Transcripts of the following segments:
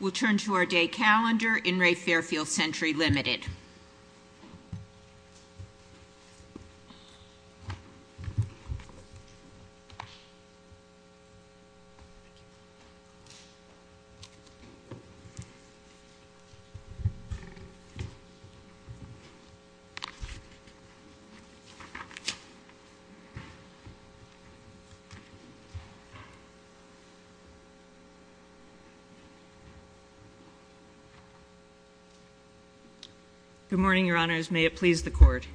We'll turn to our day calendar. In re Fairfield Sentry Limited. Good morning, Your Honors. May it please the Court.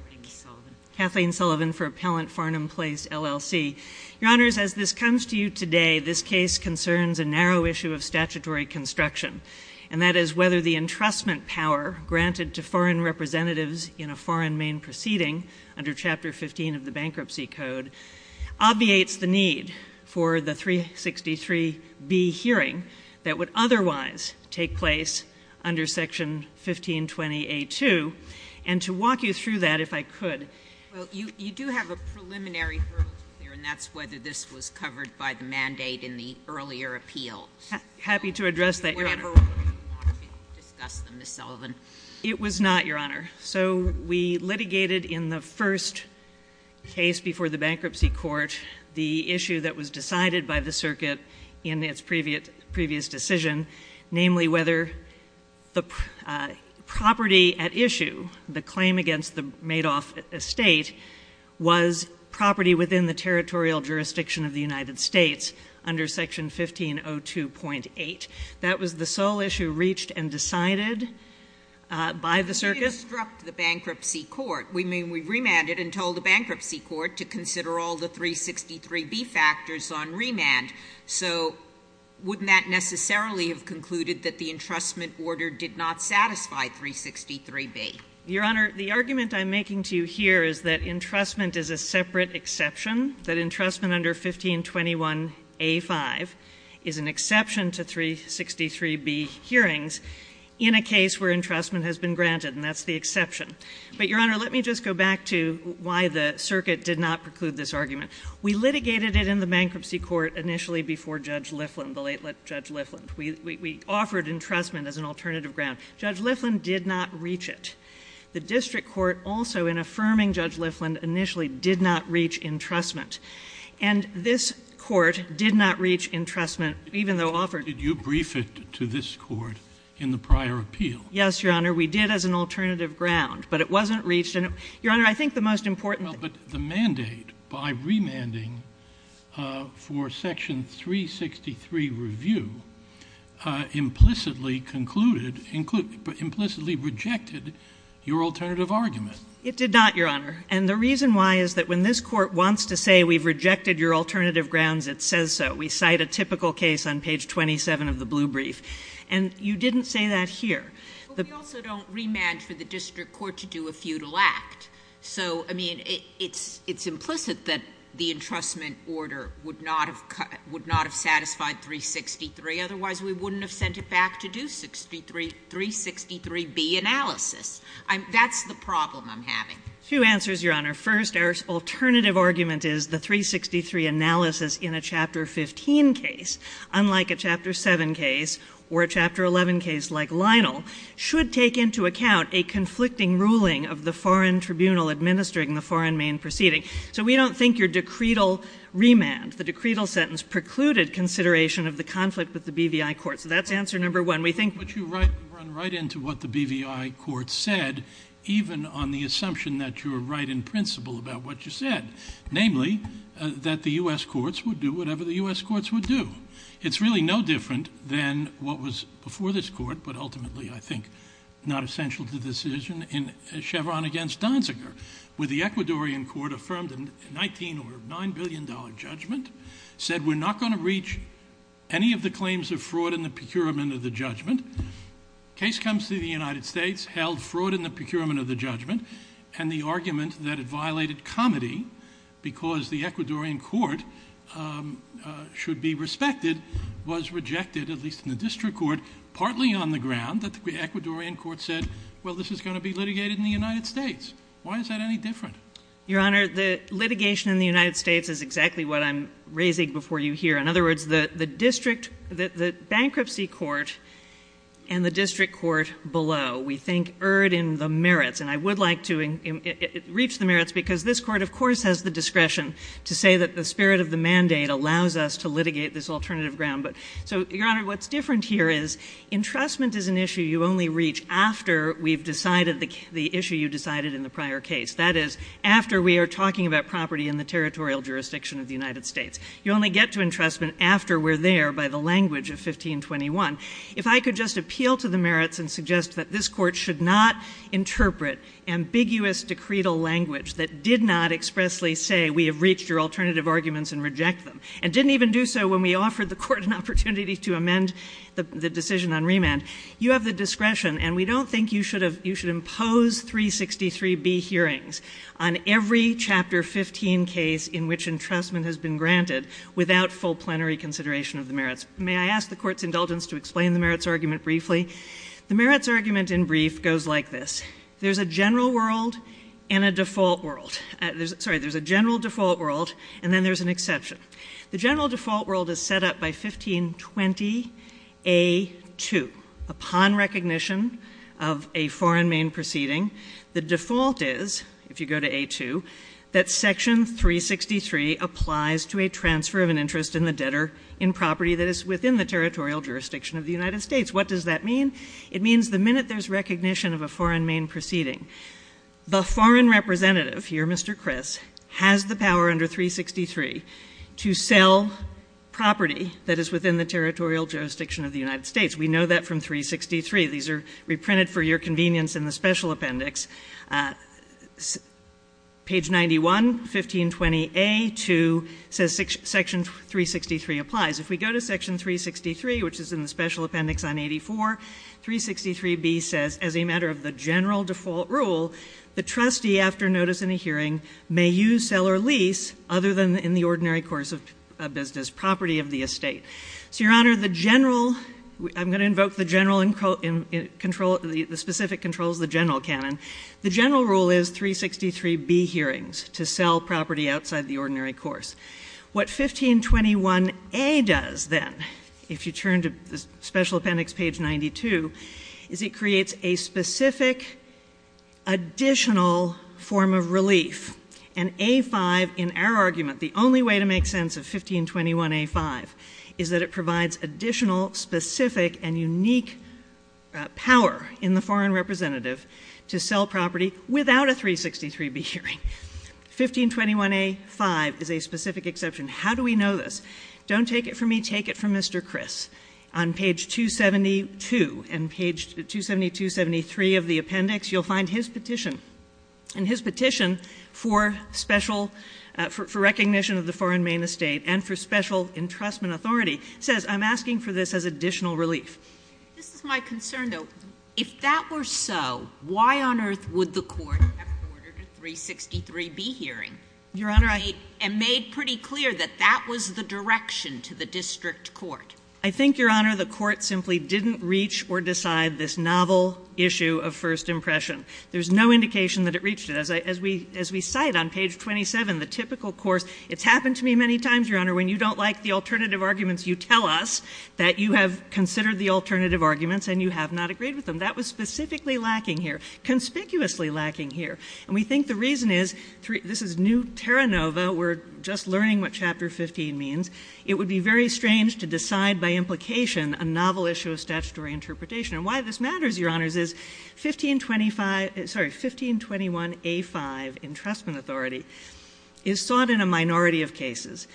Kathleen Sullivan for Appellant Farnam Place, LLC. Your Honors, as this comes to you today, this case concerns a narrow issue of statutory construction, and that is whether the entrustment power granted to foreign representatives in a foreign main proceeding under Chapter 15 of the Bankruptcy Code obviates the need for the 363B hearing that would otherwise take place under Section 1520A-2. And to walk you through that, if I could. Well, you do have a preliminary hurdle to clear, and that's whether this was covered by the mandate in the earlier appeal. Happy to address that, Your Honor. It was not, Your Honor. So we litigated in the first case before the bankruptcy court the issue that was decided by the circuit in its previous decision, namely whether the property at issue, the claim against the Madoff estate, was property within the territorial jurisdiction of the United States under Section 1502.8. That was the sole issue reached and decided by the circuit. We didn't obstruct the bankruptcy court. We remanded and told the bankruptcy court to consider all the 363B factors on remand. So wouldn't that necessarily have concluded that the entrustment order did not satisfy 363B? Your Honor, the argument I'm making to you here is that entrustment is a separate exception, that entrustment under 1521A-5 is an exception to 363B hearings in a case where entrustment has been granted, and that's the exception. But, Your Honor, let me just go back to why the circuit did not preclude this argument. We litigated it in the bankruptcy court initially before Judge Lifflin, the late Judge Lifflin. We offered entrustment as an alternative ground. Judge Lifflin did not reach it. The district court also, in affirming Judge Lifflin, initially did not reach entrustment. And this court did not reach entrustment, even though offered. Did you brief it to this court in the prior appeal? Yes, Your Honor, we did as an alternative ground, but it wasn't reached. Your Honor, I think the most important... Well, but the mandate by remanding for section 363 review implicitly concluded, implicitly rejected your alternative argument. It did not, Your Honor. And the reason why is that when this court wants to say we've rejected your alternative grounds, it says so. We cite a typical case on page 27 of the blue brief. And you didn't say that here. But we also don't remand for the district court to do a feudal act. So, I mean, it's implicit that the entrustment order would not have satisfied 363. Otherwise, we wouldn't have sent it back to do 363B analysis. That's the problem I'm having. Two answers, Your Honor. First, our alternative argument is the 363 analysis in a Chapter 15 case, unlike a Chapter 7 case or a Chapter 11 case like Lionel, should take into account a conflicting ruling of the foreign tribunal administering the foreign main proceeding. So we don't think your decretal remand, the decretal sentence precluded consideration of the conflict with the BVI court. So that's answer number one. We think... But you run right into what the BVI court said, even on the assumption that you were right in principle about what you said, namely, that the U.S. courts would do whatever the U.S. courts would do. It's really no different than what was before this court, but ultimately, I think, not essential to the decision in Chevron against Donziger, where the Ecuadorian court affirmed a 19 or $9 billion judgment, said we're not going to reach any of the claims of fraud in the procurement of the judgment. Case comes to the United States, held fraud in the procurement of the judgment, and the argument that it violated comity because the Ecuadorian court should be respected was rejected, at least in the district court, partly on the ground that the Ecuadorian court said, well, this is going to be litigated in the United States. Why is that any different? Your Honor, the litigation in the United States is exactly what I'm raising before you here. In other words, the district, the bankruptcy court and the district court below, we think erred in the merits, and I would like to reach the merits, because this court, of course, has the discretion to say that the spirit of the mandate allows us to litigate this alternative ground. But so, Your Honor, what's different here is entrustment is an issue you only reach after we've decided the issue you decided in the prior case. That is, after we are talking about property in the territorial jurisdiction of the United States. You only get to entrustment after we're there by the language of 1521. If I could just appeal to the merits and suggest that this court should not interpret ambiguous decretal language that did not expressly say we have reached your alternative arguments and reject them, and didn't even do so when we offered the court an opportunity to amend the decision on remand, you have the discretion, and we don't think you should impose 363B hearings on every Chapter 15 case in which entrustment has been granted without full plenary consideration of the merits. May I ask the court's indulgence to explain the merits argument briefly? The merits argument, in brief, goes like this. There's a general world and a default world. Sorry, there's a general default world, and then there's an exception. The general default world is set up by 1520A2, upon recognition of a foreign main proceeding. The default is, if you go to A2, that Section 363 applies to a transfer of an interest in the debtor in property that is within the territorial jurisdiction of the United States. What does that mean? It means the minute there's recognition of a foreign main proceeding, the foreign representative here, Mr. Criss, has the power under 363 to sell property that is within the territorial jurisdiction of the United States. We know that from 363. These are reprinted for your convenience in the Special Appendix. Page 91, 1520A2, says Section 363 applies. If we go to Section 363, which is in the Special Appendix on 84, 363B says, as a matter of the general default rule, the trustee, after notice in a hearing, may use, sell, or lease, other than in the ordinary course of business, property of the estate. So, Your Honor, the general, I'm going to invoke the specific controls, the general canon. The general rule is 363B hearings, to sell property outside the ordinary course. What 1521A does, then, if you turn to the Special Appendix, page 92, is it creates a specific, additional form of relief. And A5, in our argument, the only way to in the foreign representative, to sell property without a 363B hearing. 1521A5 is a specific exception. How do we know this? Don't take it from me, take it from Mr. Criss. On page 272 and page 272-73 of the appendix, you'll find his petition. And his petition for special, for recognition of the foreign main estate, and for special entrustment authority, says, I'm asking for this as if that were so, why on earth would the court have ordered a 363B hearing? Your Honor, I made pretty clear that that was the direction to the district court. I think, Your Honor, the court simply didn't reach or decide this novel issue of first impression. There's no indication that it reached it. As we, as we cite on page 27, the typical course, it's happened to me many times, Your Honor, when you don't like the alternative arguments, you tell us that you have considered the alternative arguments and you have not agreed with them. That was specifically lacking here, conspicuously lacking here. And we think the reason is, this is new Terra Nova, we're just learning what chapter 15 means. It would be very strange to decide by implication a novel issue of statutory interpretation. And why this matters, Your Honors, is 1525, sorry, 1521A5, entrustment authority, is sought in a minority of cases.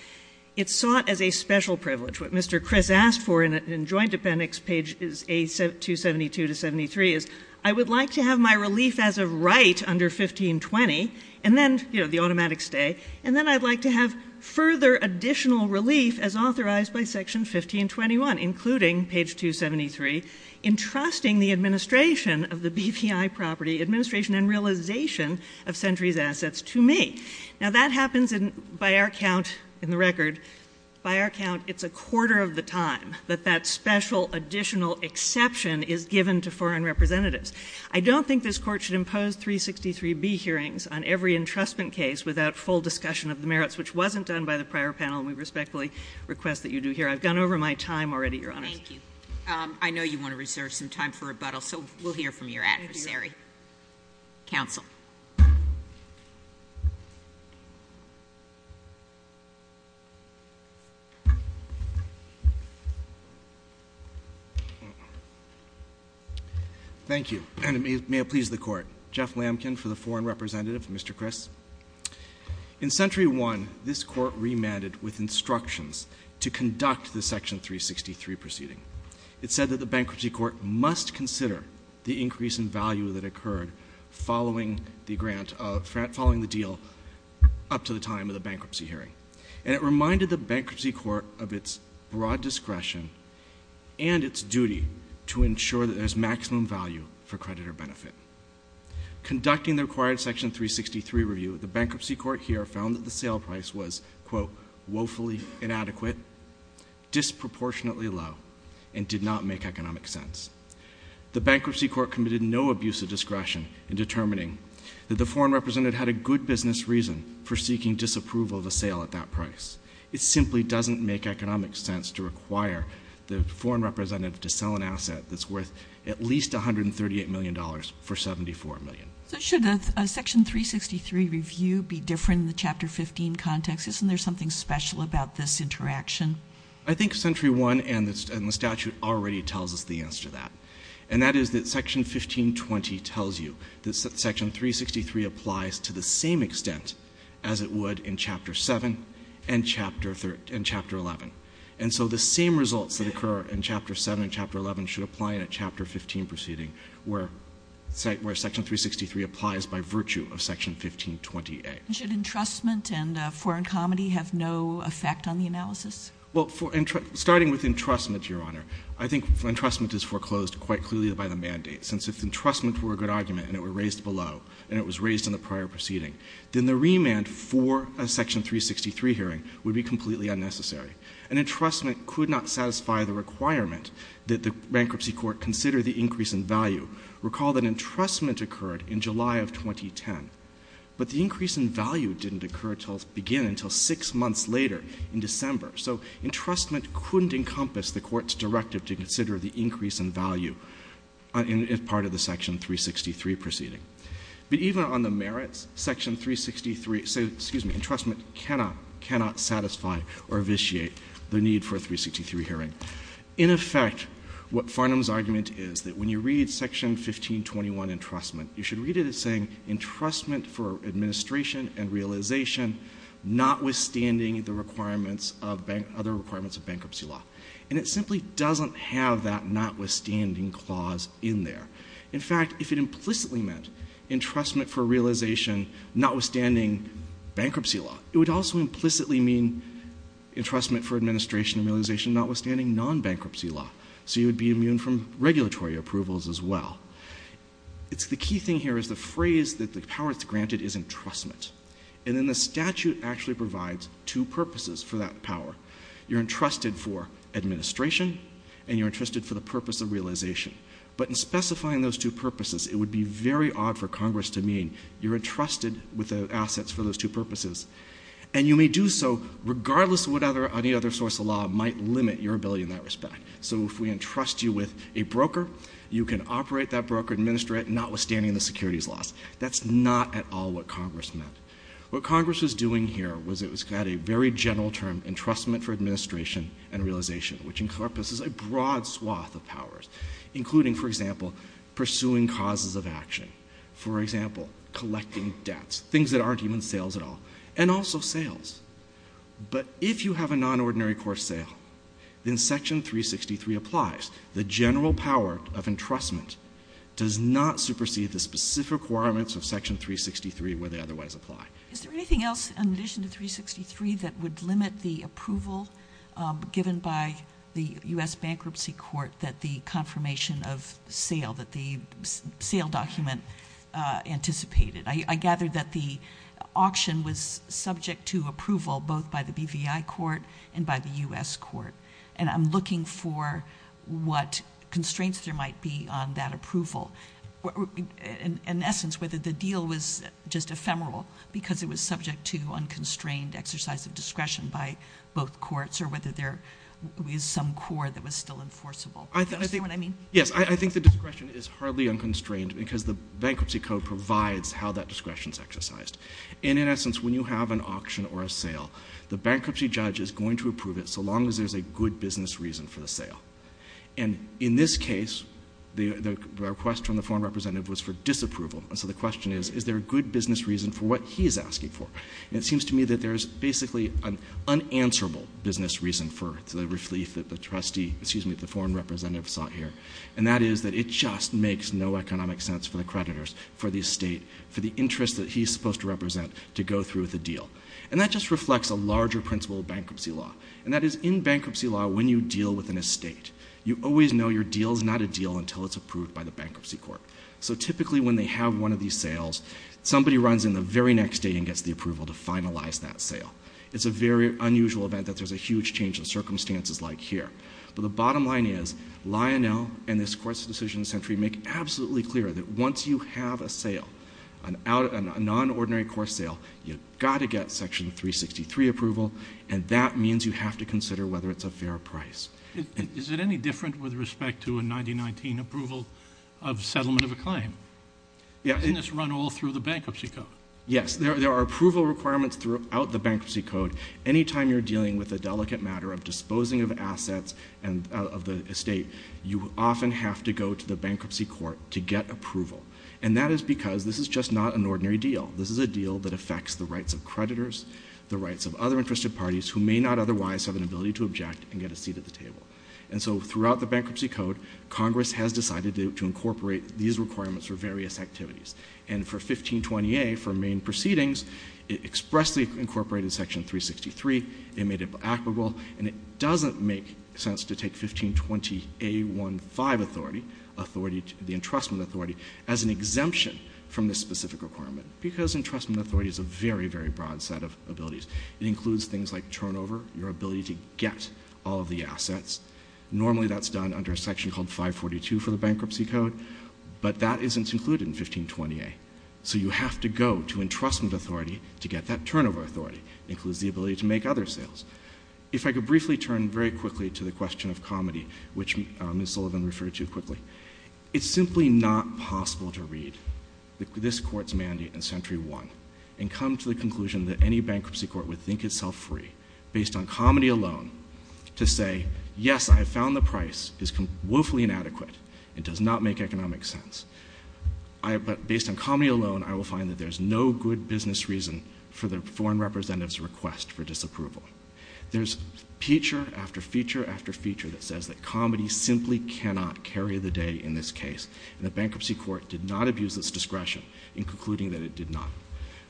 It's sought as a special privilege. What Mr. Criss asked for in joint appendix pages 272 to 73 is, I would like to have my relief as of right under 1520, and then, you know, the automatic stay, and then I'd like to have further additional relief as authorized by section 1521, including page 273, entrusting the administration of the BPI property, administration and realization of Sentry's assets to me. Now that happens in, by our account, it's a quarter of the time that that special additional exception is given to foreign representatives. I don't think this Court should impose 363B hearings on every entrustment case without full discussion of the merits, which wasn't done by the prior panel, and we respectfully request that you do here. I've gone over my time already, Your Honors. Thank you. I know you want to reserve some time for rebuttal, so we'll hear from your adversary. Counsel. Thank you, and may it please the Court. Jeff Lamkin for the foreign representative, Mr. Criss. In Sentry 1, this Court remanded with instructions to conduct the section 363 proceeding. It said that the Bankruptcy Court must consider the increase in value that occurred following the grant, following the deal up to the time of the bankruptcy hearing, and it reminded the Bankruptcy Court of its broad discretion and its duty to ensure that there's maximum value for creditor benefit. Conducting the required section 363 review, the Bankruptcy Court here found that sale price was, quote, woefully inadequate, disproportionately low, and did not make economic sense. The Bankruptcy Court committed no abuse of discretion in determining that the foreign representative had a good business reason for seeking disapproval of a sale at that price. It simply doesn't make economic sense to require the foreign representative to sell an asset that's worth at least $138 million for $74 million. So should a section 363 review be different in the Chapter 15 context? Isn't there something special about this interaction? I think Sentry 1 and the statute already tells us the answer to that, and that is that Section 1520 tells you that Section 363 applies to the same extent as it would in Chapter 7 and Chapter 11. And so the same results that occur in Chapter 7 and Chapter 11 should apply in a Chapter 15 proceeding where Section 363 applies by virtue of Section 1520A. Should entrustment and foreign comedy have no effect on the analysis? Well, starting with entrustment, Your Honor, I think entrustment is foreclosed quite clearly by the mandate, since if entrustment were a good argument and it were raised below, and it was raised in the prior proceeding, then the remand for a Section 363 hearing would be completely unnecessary. An entrustment could not satisfy the requirement that the Bankruptcy Court consider the increase in value. Recall that entrustment occurred in July of 2010, but the increase in value didn't occur until 6 months later in December. So entrustment couldn't encompass the Court's directive to consider the increase in value as part of the Section 363 proceeding. But even on the merits, Entrustment cannot satisfy or vitiate the need for a 363 hearing. In effect, what Farnham's argument is that when you read Section 1521, Entrustment, you should read it as saying, Entrustment for administration and realization, notwithstanding the requirements of Bankruptcy Law. And it simply doesn't have that notwithstanding clause in there. In fact, if it implicitly meant Entrustment for realization, notwithstanding Bankruptcy Law, it would also implicitly mean Entrustment for administration and realization, notwithstanding non-Bankruptcy Law. So you would be immune from regulatory approvals as well. It's the key thing here is the phrase that the power that's granted is Entrustment. And then the statute actually provides two purposes for that power. You're entrusted for administration, and you're entrusted for the purpose of realization. But in specifying those two purposes, it would be very odd for Congress to mean you're entrusted with the assets for those purposes. And you may do so regardless of what any other source of law might limit your ability in that respect. So if we entrust you with a broker, you can operate that broker, administer it, notwithstanding the securities laws. That's not at all what Congress meant. What Congress was doing here was it had a very general term, Entrustment for administration and realization, which encompasses a broad swath of powers, including, for example, pursuing causes of action, for example, collecting debts, things that aren't even sales at all, and also sales. But if you have a non-ordinary court sale, then Section 363 applies. The general power of Entrustment does not supersede the specific requirements of Section 363 where they otherwise apply. Is there anything else in addition to 363 that would limit the approval given by the U.S. Bankruptcy Court that the confirmation of sale, that the sale document anticipated? I gather that the auction was subject to approval both by the BVI Court and by the U.S. Court. And I'm looking for what constraints there might be on that approval. In essence, whether the deal was just ephemeral because it was subject to unconstrained exercise of discretion by both courts or whether there was some core that was still enforceable. Yes, I think the discretion is hardly unconstrained because the Bankruptcy Code provides how that discretion is exercised. And in essence, when you have an auction or a sale, the bankruptcy judge is going to approve it so long as there's a good business reason for the sale. And in this case, the request from the foreign representative was for disapproval. And so the question is, is there a good business reason for what he is asking for? And it seems to me that there's basically an unanswerable business reason for the relief that the foreign representative sought here. And that is that it just makes no economic sense for the creditors, for the estate, for the interest that he's supposed to represent to go through with a deal. And that just reflects a larger principle of bankruptcy law. And that is, in bankruptcy law, when you deal with an estate, you always know your deal is not a deal until it's approved by the Bankruptcy Court. So typically, when they have one of these sales, somebody runs in the very next day and gets the approval to finalize that sale. It's a very unusual event that there's a huge change in circumstances like here. But the bottom line is, Lionel and this Court's Decision Sentry make absolutely clear that once you have a sale, a non-ordinary course sale, you've got to get Section 363 approval. And that means you have to consider whether it's a fair price. Is it any different with respect to a 1919 approval of settlement of a claim? Can this run all through the Bankruptcy Code? Yes. There are approval requirements throughout the Bankruptcy Code. Anytime you're dealing with a delicate matter of disposing of assets of the estate, you often have to go to the Bankruptcy Court to get approval. And that is because this is just not an ordinary deal. This is a deal that affects the rights of creditors, the rights of other interested parties who may not otherwise have an ability to object and get a seat at the table. And so throughout the Bankruptcy Code, Congress has decided to incorporate these requirements for various activities. And for 1520A, for Main Proceedings, it expressly incorporated Section 363. It made it applicable. And it doesn't make sense to take 1520A-1-5 authority, the Entrustment Authority, as an exemption from this specific requirement because Entrustment Authority is a very, very broad set of abilities. It includes things like turnover, your ability to get all of the assets. Normally, that's done under a section called 542 for the Bankruptcy Code, but that isn't included in 1520A. So you have to go to Entrustment Authority to get that turnover authority. It includes the ability to make other sales. If I could briefly turn very quickly to the question of comedy, which Ms. Sullivan referred to quickly, it's simply not possible to read this Court's mandate in Century 1 and come to the conclusion that any Bankruptcy to say, yes, I have found the price is woefully inadequate and does not make economic sense. But based on comedy alone, I will find that there's no good business reason for the foreign representative's request for disapproval. There's feature after feature after feature that says that comedy simply cannot carry the day in this case. And the Bankruptcy Court did not abuse its discretion in concluding that it did not.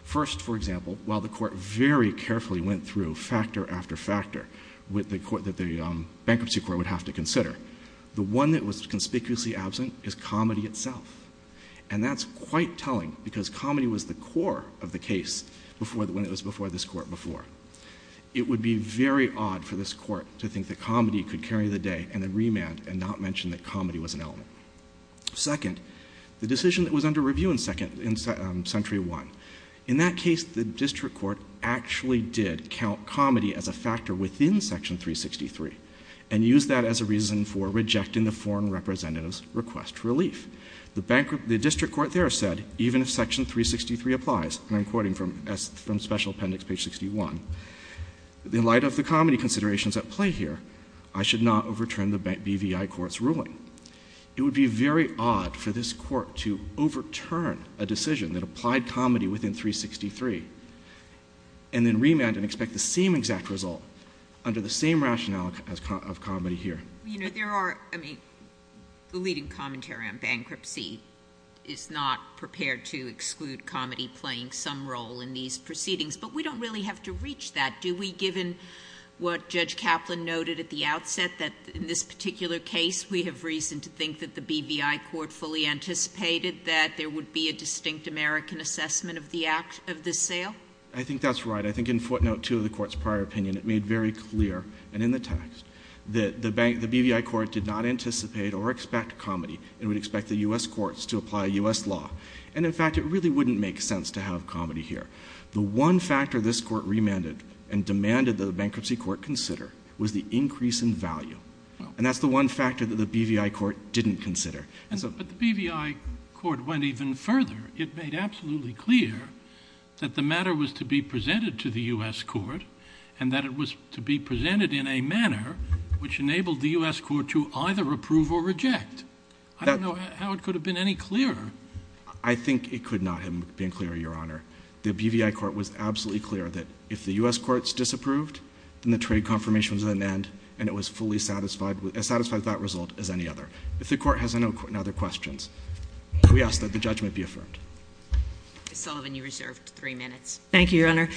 First, for example, while the Court very carefully went through factor after factor that the Bankruptcy Court would have to consider, the one that was conspicuously absent is comedy itself. And that's quite telling because comedy was the core of the case when it was before this Court before. It would be very odd for this Court to think that comedy could carry the day and then remand and not mention that comedy was an element. Second, the decision that was under review in Century 1, in that case, the District Court actually did count comedy as a factor within Section 363 and used that as a reason for rejecting the foreign representative's request for relief. The District Court there said, even if Section 363 applies, and I'm quoting from Special Appendix, page 61, in light of the comedy considerations at play here, I should not overturn the BVI Court's ruling. It would be very odd for this and then remand and expect the same exact result under the same rationale of comedy here. JUSTICE GINSBURG You know, there are, I mean, the leading commentary on bankruptcy is not prepared to exclude comedy playing some role in these proceedings. But we don't really have to reach that. Do we, given what Judge Kaplan noted at the outset, that in this particular case, we have reason to think that the BVI Court fully anticipated that there would be a distinct American assessment of the sale? I think that's right. I think in footnote 2 of the Court's prior opinion, it made very clear, and in the text, that the BVI Court did not anticipate or expect comedy. It would expect the U.S. courts to apply U.S. law. And in fact, it really wouldn't make sense to have comedy here. The one factor this Court remanded and demanded that the Bankruptcy Court consider was the increase in value. And that's the one factor that the BVI Court didn't consider. But the BVI Court went even further. It made absolutely clear that the matter was to be presented to the U.S. Court and that it was to be presented in a manner which enabled the U.S. Court to either approve or reject. I don't know how it could have been any clearer. I think it could not have been clearer, Your Honor. The BVI Court was absolutely clear that if the U.S. Court's disapproved, then the trade confirmation was at an end, and it was fully satisfied with that result as any other. If the Court has any other questions, we ask that the judgment be affirmed. Ms. Sullivan, you're reserved three minutes. Thank you, Your Honor.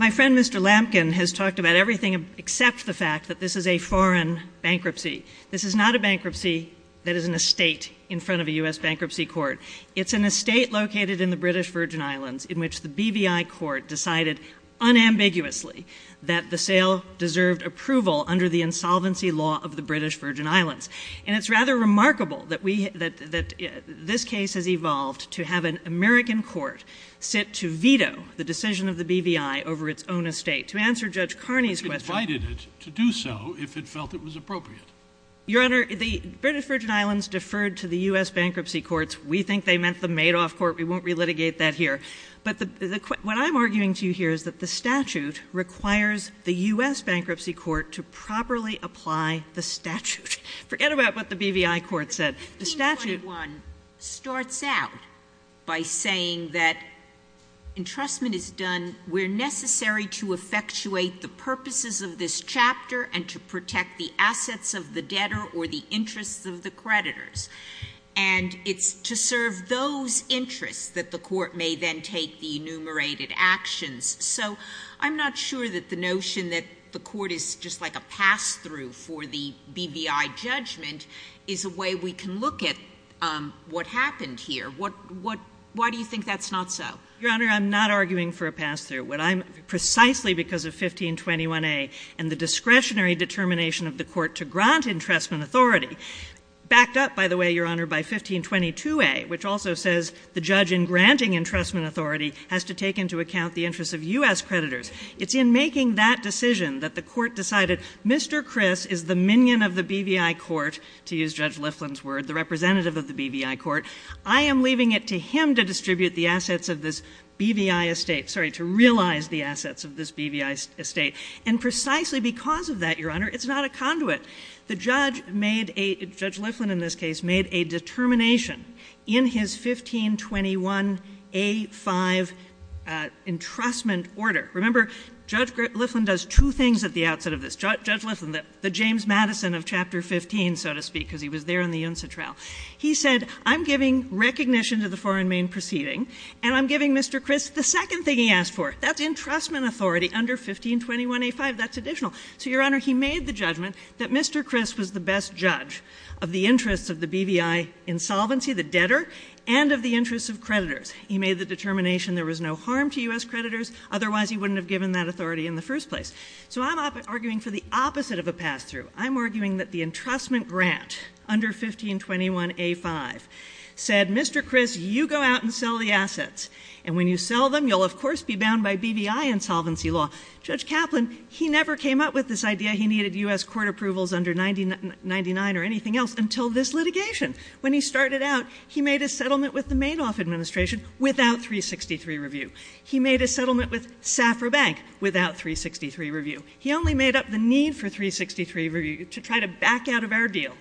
My friend Mr. Lampkin has talked about everything except the fact that this is a foreign bankruptcy. This is not a bankruptcy that is an estate in front of a U.S. Bankruptcy Court. It's an estate located in the British Virgin Islands in which the BVI Court decided unambiguously that the sale deserved approval under the insolvency law of the British Virgin Islands. And it's rather remarkable that this case has evolved to have an American Court sit to veto the decision of the BVI over its own estate. To answer Judge Carney's question— But you invited it to do so if it felt it was appropriate. Your Honor, the British Virgin Islands deferred to the U.S. Bankruptcy Courts. We think they meant the Madoff Court. We won't relitigate that here. But what I'm arguing to you here is that the statute requires the U.S. Bankruptcy Court to properly apply the statute. Forget about what the BVI Court said. The statute— But the 1321 starts out by saying that entrustment is done where necessary to effectuate the purposes of this chapter and to protect the assets of the debtor or the interests of the creditors. And it's to serve those interests that the court may then take the enumerated actions. So I'm not sure that the notion that the court is just like a pass-through for the BVI judgment is a way we can look at what happened here. What — why do you think that's not so? Your Honor, I'm not arguing for a pass-through. What I'm — precisely because of 1521a and the discretionary determination of the court to grant entrustment authority, backed up, by the way, Your Honor, by 1522a, which also says the judge in granting entrustment authority has to take into account the interests of U.S. creditors. It's in making that decision that the court decided, Mr. Criss is the minion of the BVI Court, to use Judge Lifflin's word, the representative of the BVI Court. I am leaving it to him to distribute the assets of this BVI estate — sorry, to realize the assets of this BVI estate. And precisely because of that, Your Honor, it's not a conduit. The judge made a — Judge Lifflin, in this case, made a determination in his 1521a-5 entrustment order. Remember, Judge Lifflin does two things at the outset of this. Judge Lifflin, the James Madison of Chapter 15, so to speak, because he was there on the UNSA trial. He said, I'm giving recognition to the foreign main proceeding, and I'm giving Mr. Criss the second thing he asked for. That's entrustment authority under 1521a-5. That's additional. So, Your Honor, he made the judgment that Mr. Criss was the best judge of the interests of the BVI insolvency, the debtor, and of the interests of creditors. He made the determination there was no harm to U.S. creditors. Otherwise, he wouldn't have given that authority in the first place. So I'm arguing for the opposite of a pass-through. I'm arguing that the entrustment grant under 1521a-5 said, Mr. Criss, you go out and sell the assets. And when you sell them, you'll, of course, be bound by BVI insolvency law. Judge Kaplan, he never came up with this idea he needed U.S. court approvals under 1999 or anything else until this litigation. When he started out, he made a settlement with the Madoff administration without 363 review. He made a settlement with Safra Bank without 363 review. He only made up the need for 363 review to try to back out of our deal.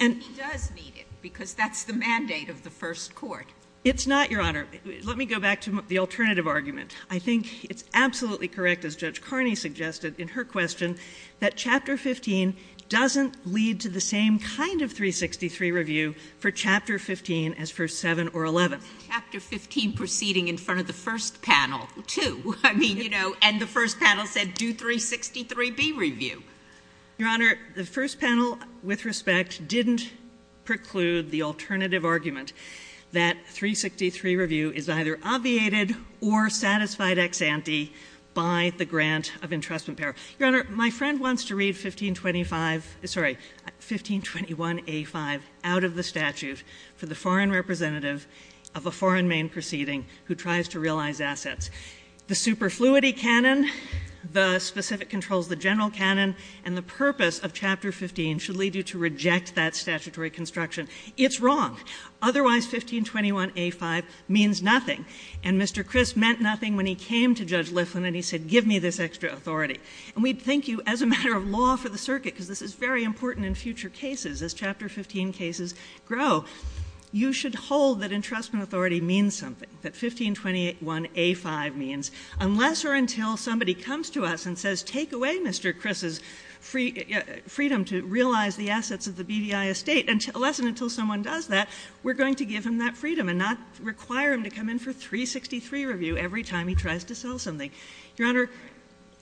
And he does need it because that's the mandate of the first court. It's not, Your Honor. Let me go back to the alternative argument. I think it's absolutely correct, as Judge Carney suggested in her question, that Chapter 15 doesn't lead to the same kind of 363 review for Chapter 15 as for 7 or 11. Chapter 15 proceeding in front of the first panel, too. I mean, you know, and the first panel said, do 363B review. Your Honor, the first panel, with respect, didn't preclude the alternative argument that 363 review is either obviated or satisfied ex ante by the grant of entrustment power. Your Honor, my friend wants to read 1525, sorry, 1521A5 out of the statute for the foreign representative of a foreign main proceeding who tries to realize assets. The superfluity canon, the specific controls, the general canon, and the purpose of Chapter 15 should lead you to reject that statutory construction. It's wrong. Otherwise, 1521A5 means nothing. And Mr. Criss meant nothing when he came to Judge Liflin and he said, give me this extra authority. And we thank you as a matter of law for the circuit, because this is very important in future cases as Chapter 15 cases grow. You should hold that entrustment authority means something, that 1521A5 means, unless or until somebody comes to us and says, take away Mr. Criss's freedom to realize the assets of the BVI estate, unless and until someone does that, we're going to give him that freedom and not require him to come in for 363 review every time he tries to sell something. Your Honor.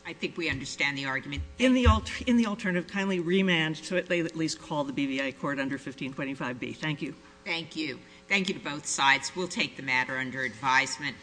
I think we understand the argument. In the alternative, kindly remand to at least call the BVI court under 1525B. Thank you. Thank you. Thank you to both sides. We'll take the matter under advisement.